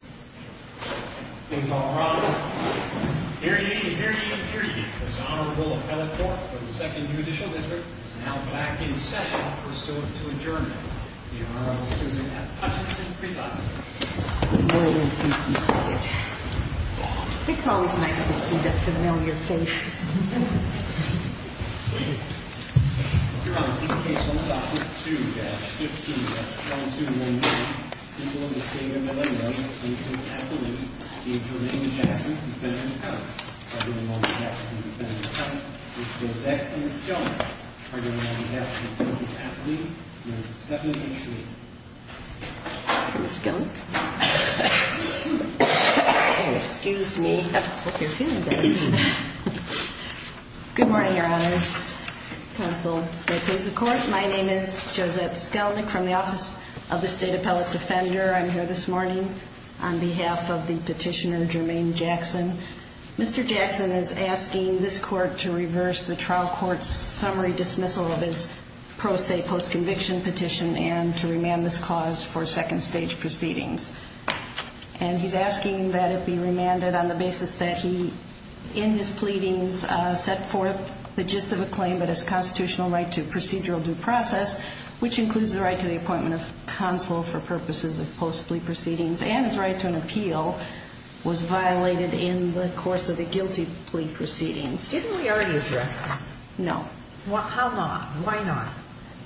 The Honorable Susan F. Hutchinson It's always nice to see the familiar faces. Your Honor, in this case, 1-2-15-1211, people in the state of Illinois, Ms. Susan F. Hutchinson, the Attorney, Mr. Jackson, the Defendant, and the Counselor. Arguing on behalf of the Defendant and Counselor, Ms. Josette, and Ms. Skelen. Arguing on behalf of the Defendant and Counselor, Ms. Stephanie, and Ms. Schleen. Ms. Skelen? Excuse me. I hope you're feeling better. Good morning, Your Honors. Counsel, the case of court. My name is Josette Skelenick from the Office of the State Appellate Defender. I'm here this morning on behalf of the petitioner, Jermaine Jackson. Mr. Jackson is asking this court to reverse the trial court's summary dismissal of his pro se post-conviction petition and to remand this cause for second stage proceedings. And he's asking that it be remanded on the basis that he, in his pleadings, set forth the gist of a claim that his constitutional right to procedural due process, which includes the right to the appointment of counsel for purposes of post-plea proceedings, and his right to an appeal, was violated in the course of the guilty plea proceedings. Didn't we already address this? No. How not? Why not?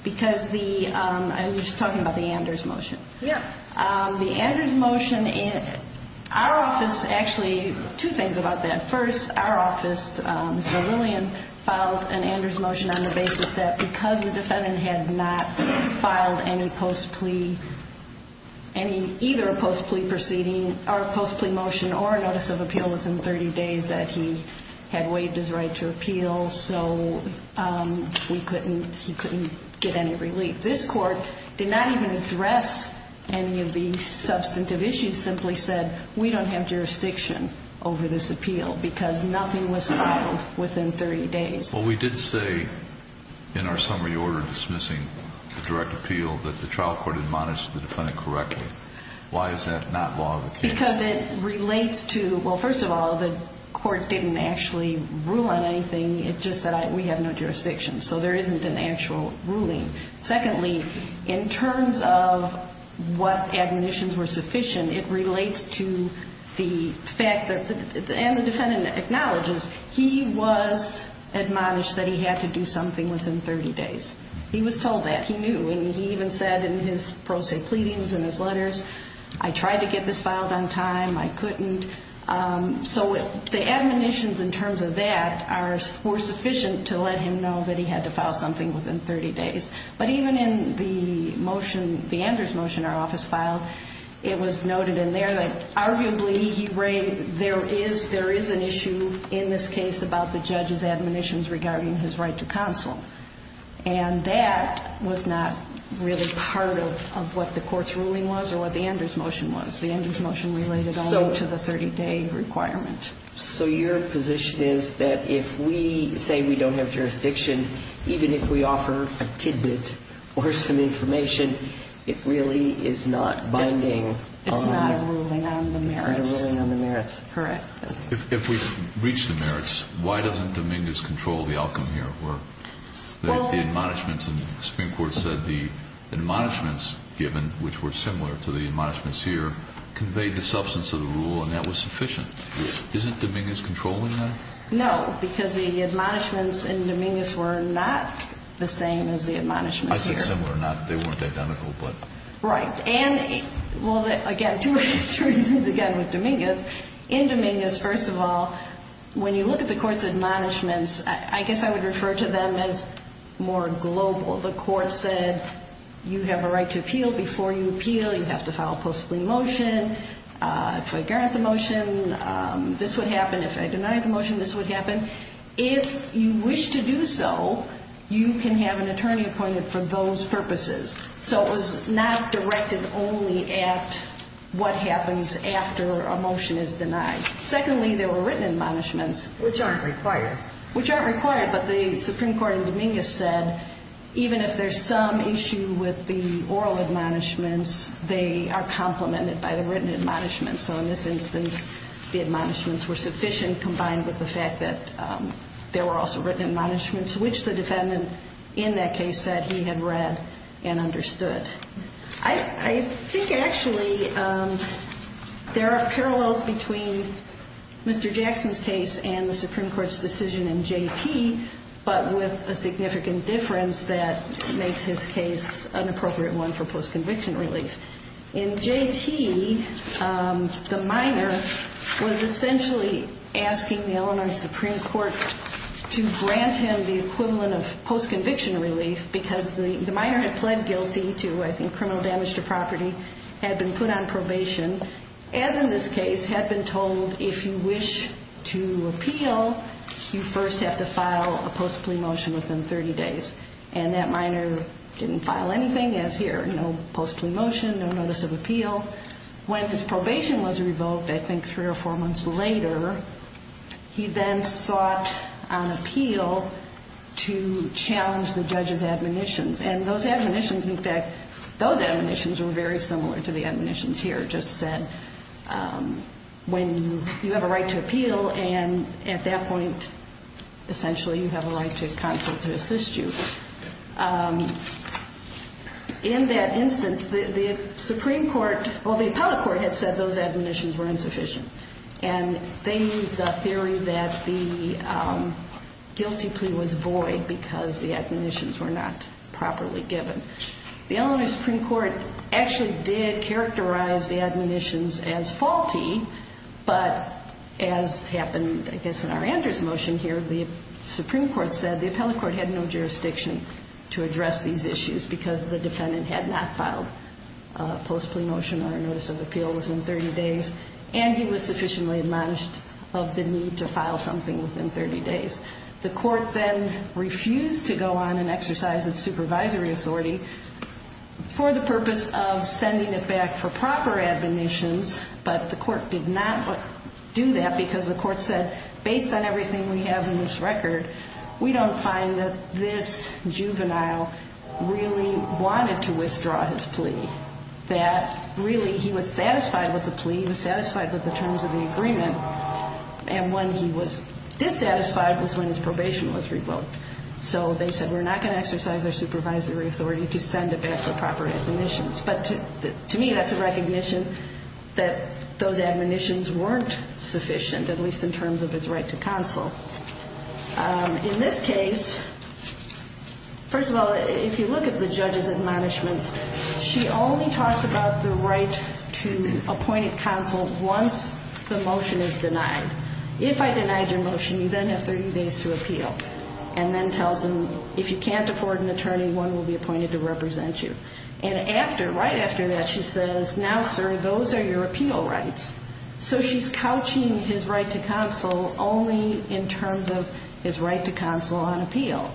Because the, I was just talking about the Anders motion. Yeah. The Anders motion, our office, actually, two things about that. First, our office, Mr. Lillian, filed an Anders motion on the basis that because the defendant had not filed any post-plea, any, either a post-plea proceeding or a post-plea motion or a notice of appeal within 30 days that he had waived his right to appeal, so we couldn't, he couldn't get any relief. This Court did not even address any of the substantive issues, simply said, we don't have jurisdiction over this appeal because nothing was filed within 30 days. Well, we did say in our summary order dismissing the direct appeal that the trial court had monitored the defendant correctly. Why is that not law of the case? Because it relates to, well, first of all, the court didn't actually rule on anything. It just said, we have no jurisdiction. So there isn't an actual ruling. Secondly, in terms of what admonitions were sufficient, it relates to the fact that, and the defendant acknowledges, he was admonished that he had to do something within 30 days. He was told that. He knew. And he even said in his pro se pleadings and his letters, I tried to get this filed on time. I couldn't. So the admonitions in terms of that were sufficient to let him know that he had to file something within 30 days. But even in the motion, the Anders motion, our office filed, it was noted in there that arguably there is an issue in this case about the judge's admonitions regarding his right to counsel. And that was not really part of what the court's ruling was or what the Anders motion was. The Anders motion related only to the 30-day requirement. So your position is that if we say we don't have jurisdiction, even if we offer a tidbit or some information, it really is not binding? It's not a ruling on the merits. It's not a ruling on the merits. Correct. If we reach the merits, why doesn't Dominguez control the outcome here? Well, the admonishments in the Supreme Court said the admonishments given, which were similar to the admonishments here, conveyed the substance of the rule, and that was sufficient. Isn't Dominguez controlling that? No, because the admonishments in Dominguez were not the same as the admonishments here. I said similar or not. They weren't identical. Right. In Dominguez, first of all, when you look at the court's admonishments, I guess I would refer to them as more global. The court said you have a right to appeal before you appeal. You have to file a post-plea motion. If I grant the motion, this would happen. If I deny the motion, this would happen. If you wish to do so, you can have an attorney appointed for those purposes. So it was not directed only at what happens after a motion is denied. Secondly, there were written admonishments. Which aren't required. Which aren't required, but the Supreme Court in Dominguez said even if there's some issue with the oral admonishments, they are complemented by the written admonishments. So in this instance, the admonishments were sufficient combined with the fact that there were also written admonishments, which the defendant in that case said he had read and understood. I think actually there are parallels between Mr. Jackson's case and the Supreme Court's decision in J.T., but with a significant difference that makes his case an appropriate one for post-conviction relief. In J.T., the minor was essentially asking the Illinois Supreme Court to grant him the equivalent of post-conviction relief because the minor had pled guilty to, I think, criminal damage to property. Had been put on probation. As in this case, had been told if you wish to appeal, you first have to file a post-plea motion within 30 days. And that minor didn't file anything as here. No post-plea motion. No notice of appeal. When his probation was revoked, I think three or four months later, he then sought an appeal to challenge the judge's admonitions. And those admonitions, in fact, those admonitions were very similar to the admonitions here. When you have a right to appeal, and at that point, essentially, you have a right to counsel to assist you. In that instance, the Supreme Court, well, the appellate court had said those admonitions were insufficient. And they used a theory that the guilty plea was void because the admonitions were not properly given. The Eleanor Supreme Court actually did characterize the admonitions as faulty. But as happened, I guess, in our Andrews motion here, the Supreme Court said the appellate court had no jurisdiction to address these issues because the defendant had not filed a post-plea motion or a notice of appeal within 30 days. And he was sufficiently admonished of the need to file something within 30 days. The court then refused to go on and exercise its supervisory authority for the purpose of sending it back for proper admonitions. But the court did not do that because the court said, based on everything we have in this record, we don't find that this juvenile really wanted to withdraw his plea, that really he was satisfied with the plea, he was satisfied with the terms of the agreement, and when he was dissatisfied was when his probation was revoked. So they said we're not going to exercise our supervisory authority to send it back for proper admonitions. But to me, that's a recognition that those admonitions weren't sufficient, at least in terms of its right to counsel. In this case, first of all, if you look at the judge's admonishments, she only talks about the right to appointed counsel once the motion is denied. If I denied your motion, you then have 30 days to appeal and then tells them if you can't afford an attorney, one will be appointed to represent you. And after, right after that, she says, now, sir, those are your appeal rights. So she's couching his right to counsel only in terms of his right to counsel on appeal.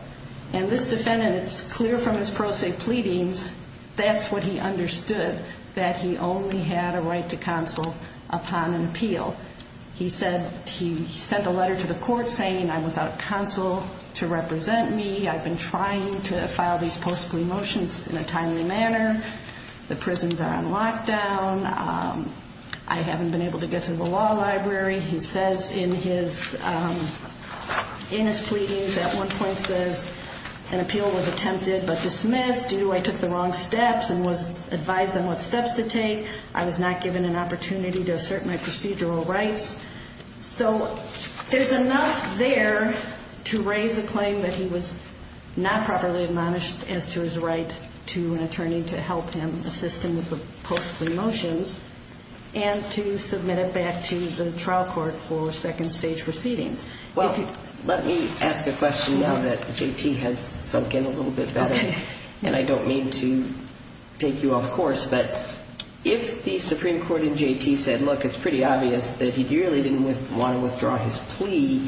And this defendant, it's clear from his pro se pleadings, that's what he understood, that he only had a right to counsel upon an appeal. He said, he sent a letter to the court saying I'm without counsel to represent me, I've been trying to file these post plea motions in a timely manner, the prisons are on lockdown, I haven't been able to get to the law library. He says in his pleadings at one point says an appeal was attempted but dismissed due to I took the wrong steps and was advised on what steps to take, I was not given an opportunity to assert my procedural rights. So there's enough there to raise a claim that he was not properly admonished as to his right to an attorney to help him assist him with the post plea motions and to submit it back to the trial court for second stage proceedings. Well, let me ask a question now that J.T. has sunk in a little bit better. And I don't mean to take you off course, but if the Supreme Court in J.T. said, look, it's pretty obvious that he really didn't want to withdraw his plea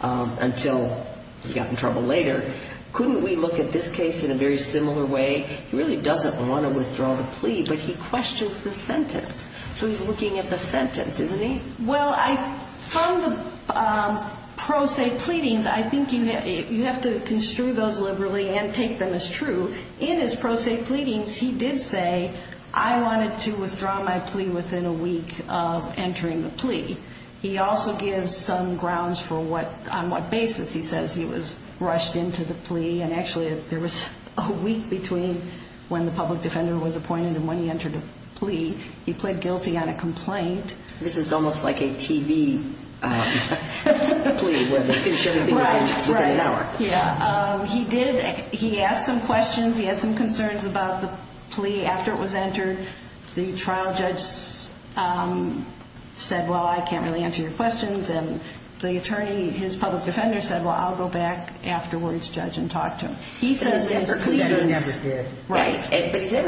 until he got in trouble later, couldn't we look at this case in a very similar way? He really doesn't want to withdraw the plea, but he questions the sentence. So he's looking at the sentence, isn't he? Well, from the pro se pleadings, I think you have to construe those liberally and take them as true. In his pro se pleadings, he did say I wanted to withdraw my plea within a week of entering the plea. He also gives some grounds for what, on what basis he says he was rushed into the plea. And actually there was a week between when the public defender was appointed and when he entered a plea. He pled guilty on a complaint. This is almost like a TV plea where they finish everything within an hour. Yeah, he did, he asked some questions. He had some concerns about the plea after it was entered. The trial judge said, well, I can't really answer your questions. And the attorney, his public defender said, well, I'll go back afterwards, judge, and talk to him. But he's never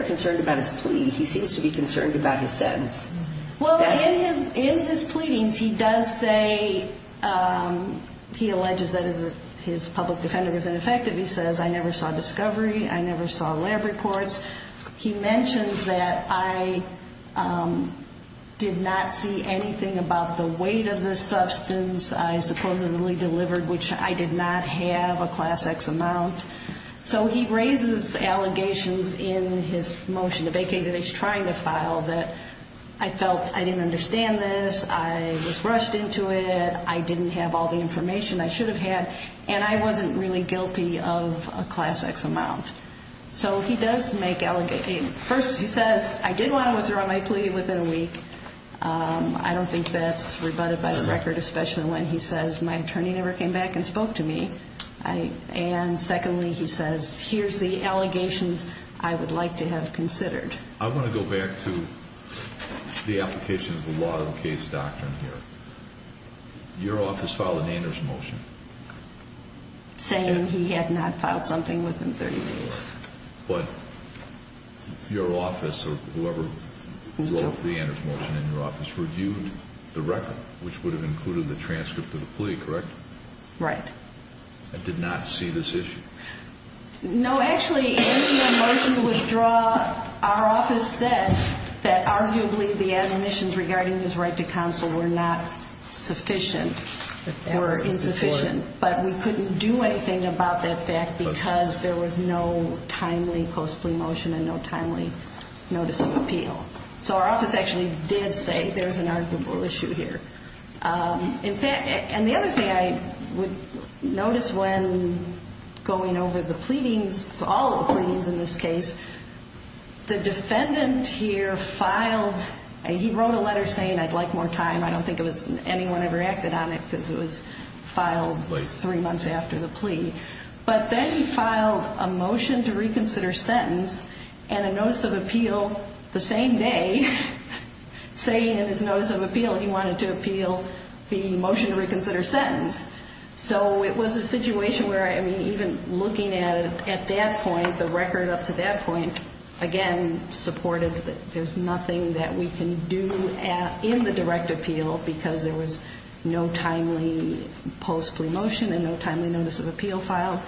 concerned about his plea. He seems to be concerned about his sentence. Well, in his pleadings, he does say, he alleges that his public defender was ineffective. He says, I never saw discovery. I never saw lab reports. He mentions that I did not see anything about the weight of the substance I supposedly delivered, which I did not have a Class X amount. So he raises allegations in his motion to vacate that he's trying to file that I felt I didn't understand this, I was rushed into it, I didn't have all the information I should have had, and I wasn't really guilty of a Class X amount. So he does make allegations. First, he says, I did want to withdraw my plea within a week. I don't think that's rebutted by the record, especially when he says, my attorney never came back and spoke to me. And secondly, he says, here's the allegations I would like to have considered. I want to go back to the application of the law of the case doctrine here. Your office filed an Anders motion. Saying he had not filed something within 30 days. But your office or whoever wrote the Anders motion in your office reviewed the record, which would have included the transcript of the plea, correct? Right. And did not see this issue? No, actually, in the motion to withdraw, our office said that arguably the admonitions regarding his right to counsel were not sufficient. Were insufficient. But we couldn't do anything about that fact because there was no timely post-plea motion and no timely notice of appeal. So our office actually did say there's an arguable issue here. In fact, and the other thing I would notice when going over the pleadings, all of the pleadings in this case, the defendant here filed, he wrote a letter saying I'd like more time. I don't think anyone ever acted on it because it was filed three months after the plea. But then he filed a motion to reconsider sentence and a notice of appeal the same day. Saying in his notice of appeal he wanted to appeal the motion to reconsider sentence. So it was a situation where, I mean, even looking at it at that point, the record up to that point, again, supported that there's nothing that we can do in the direct appeal because there was no timely post-plea motion and no timely notice of appeal file.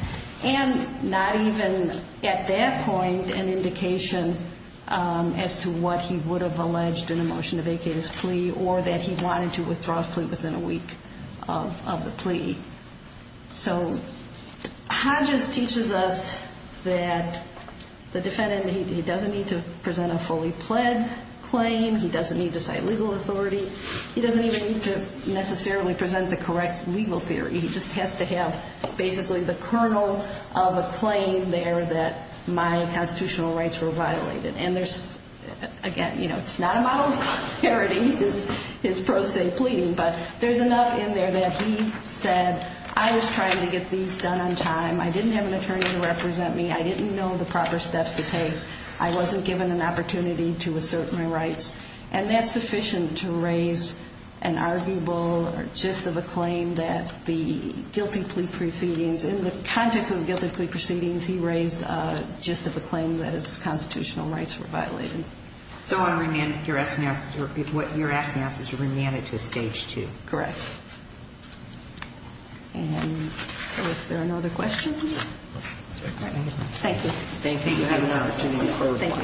And not even at that point an indication as to what he would have alleged in a motion to vacate his plea or that he wanted to withdraw his plea within a week of the plea. So Hodges teaches us that the defendant, he doesn't need to present a fully pled claim. He doesn't need to cite legal authority. He doesn't even need to necessarily present the correct legal theory. He just has to have basically the kernel of a claim there that my constitutional rights were violated. And there's, again, you know, it's not a model of clarity, his pro se pleading. But there's enough in there that he said I was trying to get these done on time. I didn't have an attorney to represent me. I didn't know the proper steps to take. I wasn't given an opportunity to assert my rights. And that's sufficient to raise an arguable or gist of a claim that the guilty plea proceedings, in the context of the guilty plea proceedings, he raised a gist of a claim that his constitutional rights were violated. So what you're asking us is to remand it to a stage two. Correct. And I don't know if there are no other questions. Thank you. Thank you. Thank you. Thank you.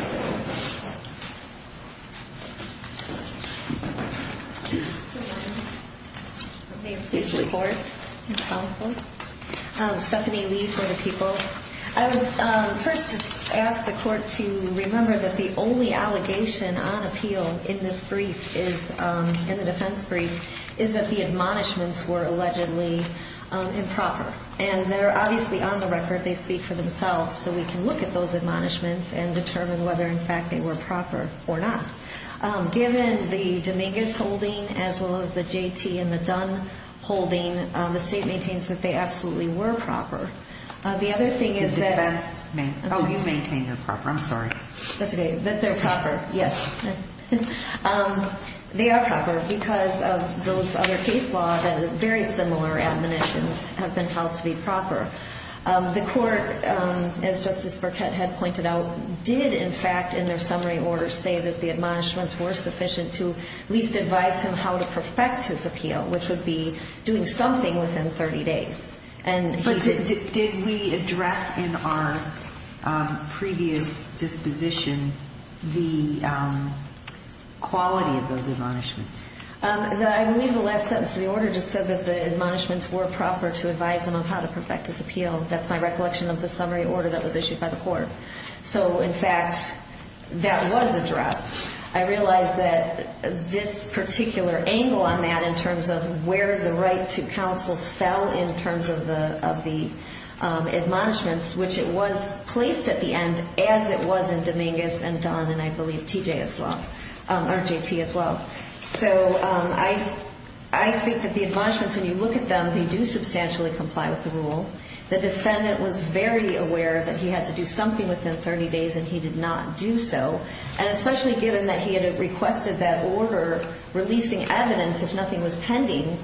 May I please report to counsel? Stephanie Lee for the people. I would first just ask the court to remember that the only allegation on appeal in this brief is, in the defense brief, is that the admonishments were allegedly improper. And they're obviously on the record. They speak for themselves. So we can look at those admonishments and determine whether, in fact, they were proper or not. Given the Dominguez holding as well as the J.T. and the Dunn holding, the state maintains that they absolutely were proper. The other thing is that the defense – Oh, you maintain they're proper. I'm sorry. That's okay. That they're proper. Yes. They are proper because of those other case laws and very similar admonitions have been held to be proper. The court, as Justice Burkett had pointed out, did, in fact, in their summary order, say that the admonishments were sufficient to at least advise him how to perfect his appeal, which would be doing something within 30 days. But did we address in our previous disposition the quality of those admonishments? I believe the last sentence of the order just said that the admonishments were proper to advise him on how to perfect his appeal. That's my recollection of the summary order that was issued by the court. So, in fact, that was addressed. I realize that this particular angle on that in terms of where the right to counsel fell in terms of the admonishments, which it was placed at the end as it was in Dominguez and Dunn and I believe T.J. as well – or J.T. as well. So I think that the admonishments, when you look at them, they do substantially comply with the rule. The defendant was very aware that he had to do something within 30 days, and he did not do so. And especially given that he had requested that order releasing evidence if nothing was pending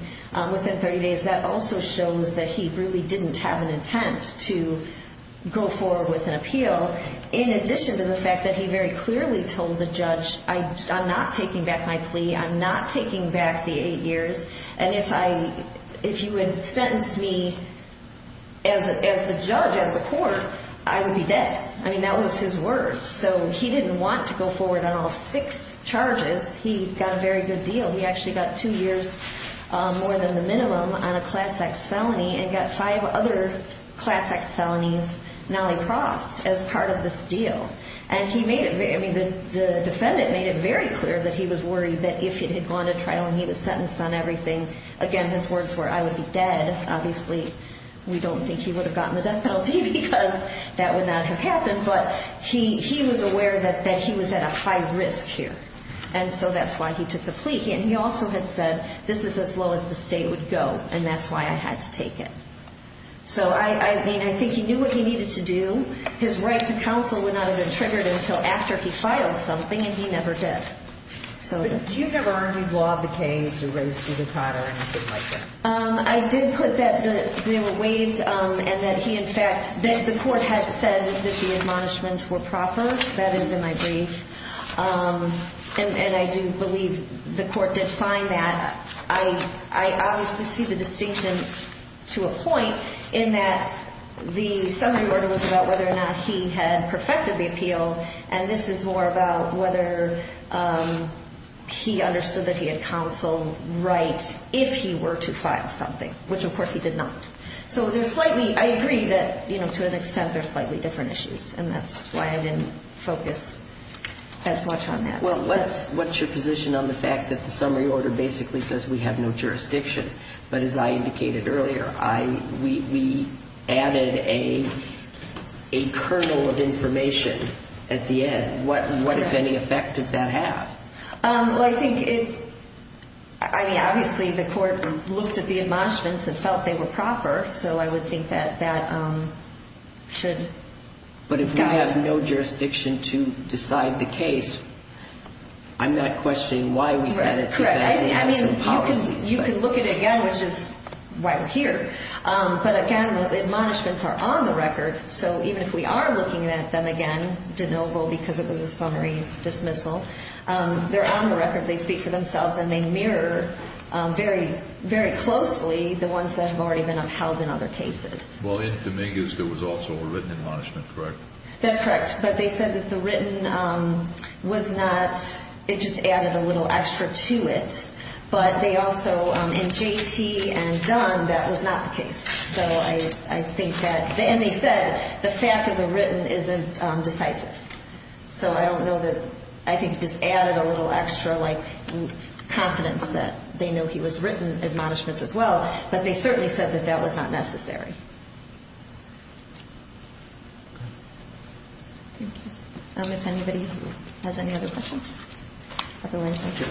within 30 days, that also shows that he really didn't have an intent to go forward with an appeal, in addition to the fact that he very clearly told the judge, I'm not taking back my plea, I'm not taking back the eight years, and if you had sentenced me as the judge, as the court, I would be dead. I mean, that was his words. So he didn't want to go forward on all six charges. He got a very good deal. He actually got two years, more than the minimum, on a Class X felony and got five other Class X felonies, nolly-crossed, as part of this deal. And he made it – I mean, the defendant made it very clear that he was worried that if he had gone to trial and he was sentenced on everything, again, his words were, I would be dead. Obviously, we don't think he would have gotten the death penalty because that would not have happened, but he was aware that he was at a high risk here. And so that's why he took the plea. And he also had said, this is as low as the state would go, and that's why I had to take it. So, I mean, I think he knew what he needed to do. His right to counsel would not have been triggered until after he filed something, and he never did. Did you ever argue law of the case or raise judicata or anything like that? I did put that they were waived and that he, in fact, that the court had said that the admonishments were proper. That is in my brief. And I do believe the court did find that. I obviously see the distinction to a point in that the summary order was about whether or not he had perfected the appeal, and this is more about whether he understood that he had counseled right if he were to file something, which, of course, he did not. So there's slightly ‑‑ I agree that, you know, to an extent, there are slightly different issues, and that's why I didn't focus as much on that. Well, what's your position on the fact that the summary order basically says we have no jurisdiction, but as I indicated earlier, we added a kernel of information at the end. What, if any, effect does that have? Well, I think it ‑‑ I mean, obviously, the court looked at the admonishments and felt they were proper, so I would think that that should guide. But if we have no jurisdiction to decide the case, I'm not questioning why we said it because that's the absence of policy. You can look at it again, which is why we're here. But, again, the admonishments are on the record, so even if we are looking at them again, de novo, because it was a summary dismissal, they're on the record, they speak for themselves, and they mirror very closely the ones that have already been upheld in other cases. Well, in Dominguez, there was also a written admonishment, correct? That's correct, but they said that the written was not ‑‑ it just added a little extra to it, but they also, in J.T. and Dunn, that was not the case. So I think that ‑‑ and they said the fact of the written isn't decisive. So I don't know that ‑‑ I think it just added a little extra, like, confidence that they know he was written admonishments as well, but they certainly said that that was not necessary. Thank you. Otherwise, thank you.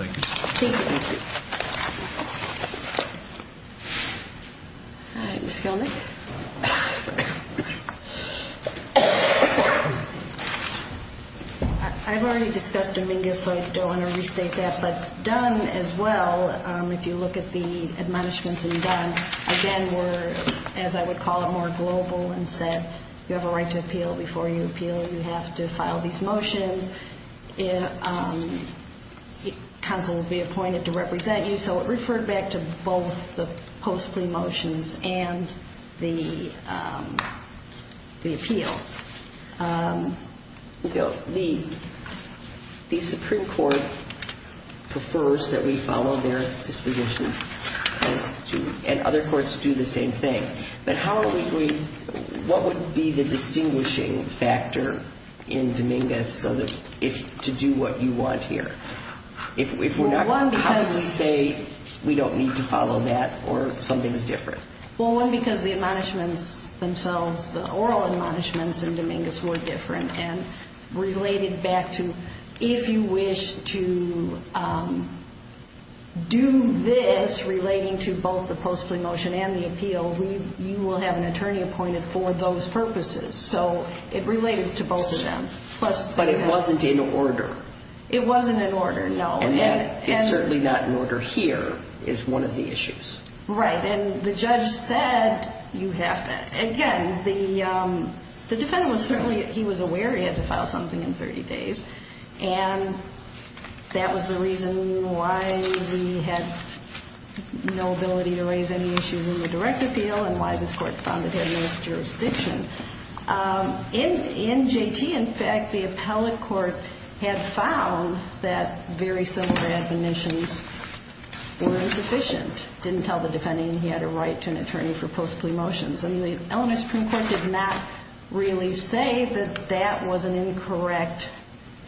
Thank you. All right, Ms. Kilnick. I've already discussed Dominguez, so I don't want to restate that. But Dunn as well, if you look at the admonishments in Dunn, again, were, as I would call it, more global and said you have a right to appeal before you appeal, you have to file these motions. And counsel will be appointed to represent you. So it referred back to both the post‑plea motions and the appeal. The Supreme Court prefers that we follow their dispositions, and other courts do the same thing. But how are we going ‑‑ what would be the distinguishing factor in Dominguez to do what you want here? Well, one, because we say we don't need to follow that or something is different. Well, one, because the admonishments themselves, the oral admonishments in Dominguez were different and related back to if you wish to do this relating to both the post‑plea motion and the appeal, you will have an attorney appointed for those purposes. So it related to both of them. But it wasn't in order. It wasn't in order, no. And it's certainly not in order here is one of the issues. Right. And the judge said you have to ‑‑ again, the defendant was certainly ‑‑ he was aware he had to file something in 30 days. And that was the reason why we had no ability to raise any issues in the direct appeal and why this court found it had no jurisdiction. In J.T., in fact, the appellate court had found that very similar admonitions were insufficient, didn't tell the defendant he had a right to an attorney for post‑plea motions. And the Illinois Supreme Court did not really say that that was an incorrect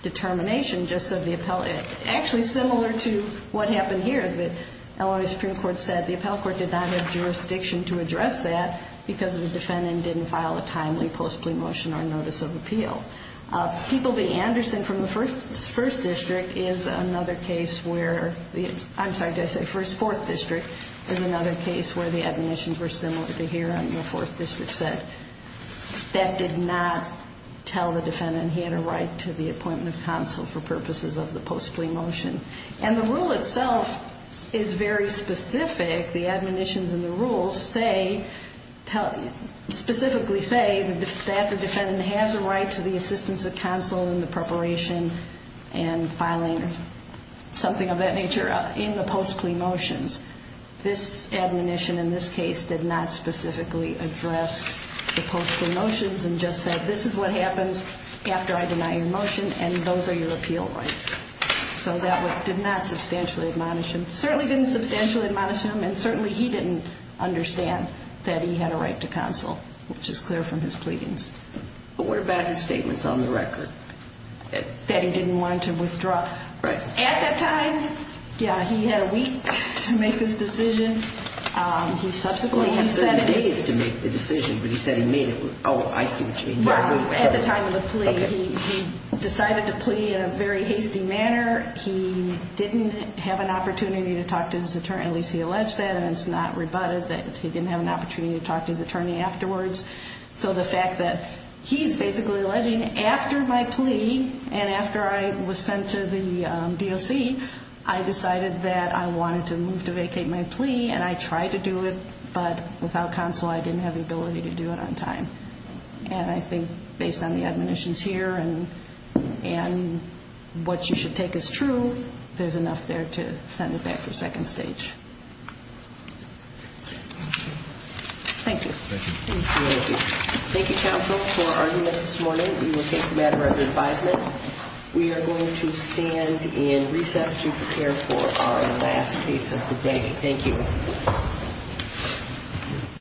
determination, just said the appellate ‑‑ actually, similar to what happened here. The Illinois Supreme Court said the appellate court did not have jurisdiction to address that because the defendant didn't file a timely post‑plea motion or notice of appeal. People v. Anderson from the first district is another case where ‑‑ I'm sorry, did I say first? Fourth district is another case where the admonitions were similar to here on your fourth district side. That did not tell the defendant he had a right to the appointment of counsel for purposes of the post‑plea motion. And the rule itself is very specific. The admonitions in the rule say ‑‑ specifically say that the defendant has a right to the assistance of counsel in the preparation and filing something of that nature in the post‑plea motions. This admonition in this case did not specifically address the post‑plea motions and just said this is what happens after I deny your motion and those are your appeal rights. So that did not substantially admonish him. Certainly didn't substantially admonish him and certainly he didn't understand that he had a right to counsel, which is clear from his pleadings. But what about his statements on the record? That he didn't want to withdraw. Right. At that time, yeah, he had a week to make this decision. He subsequently ‑‑ He said he needed to make the decision, but he said he made it. Oh, I see what you mean. Well, at the time of the plea, he decided to plea in a very hasty manner. He didn't have an opportunity to talk to his attorney, at least he alleged that, and it's not rebutted that he didn't have an opportunity to talk to his attorney afterwards. So the fact that he's basically alleging after my plea and after I was sent to the DOC, I decided that I wanted to move to vacate my plea and I tried to do it, but without counsel I didn't have the ability to do it on time. And I think based on the admonitions here and what you should take as true, there's enough there to send it back for second stage. Thank you. Thank you. Thank you, counsel, for argument this morning. We will take the matter under advisement. We are going to stand and recess to prepare for our last case of the day. Thank you.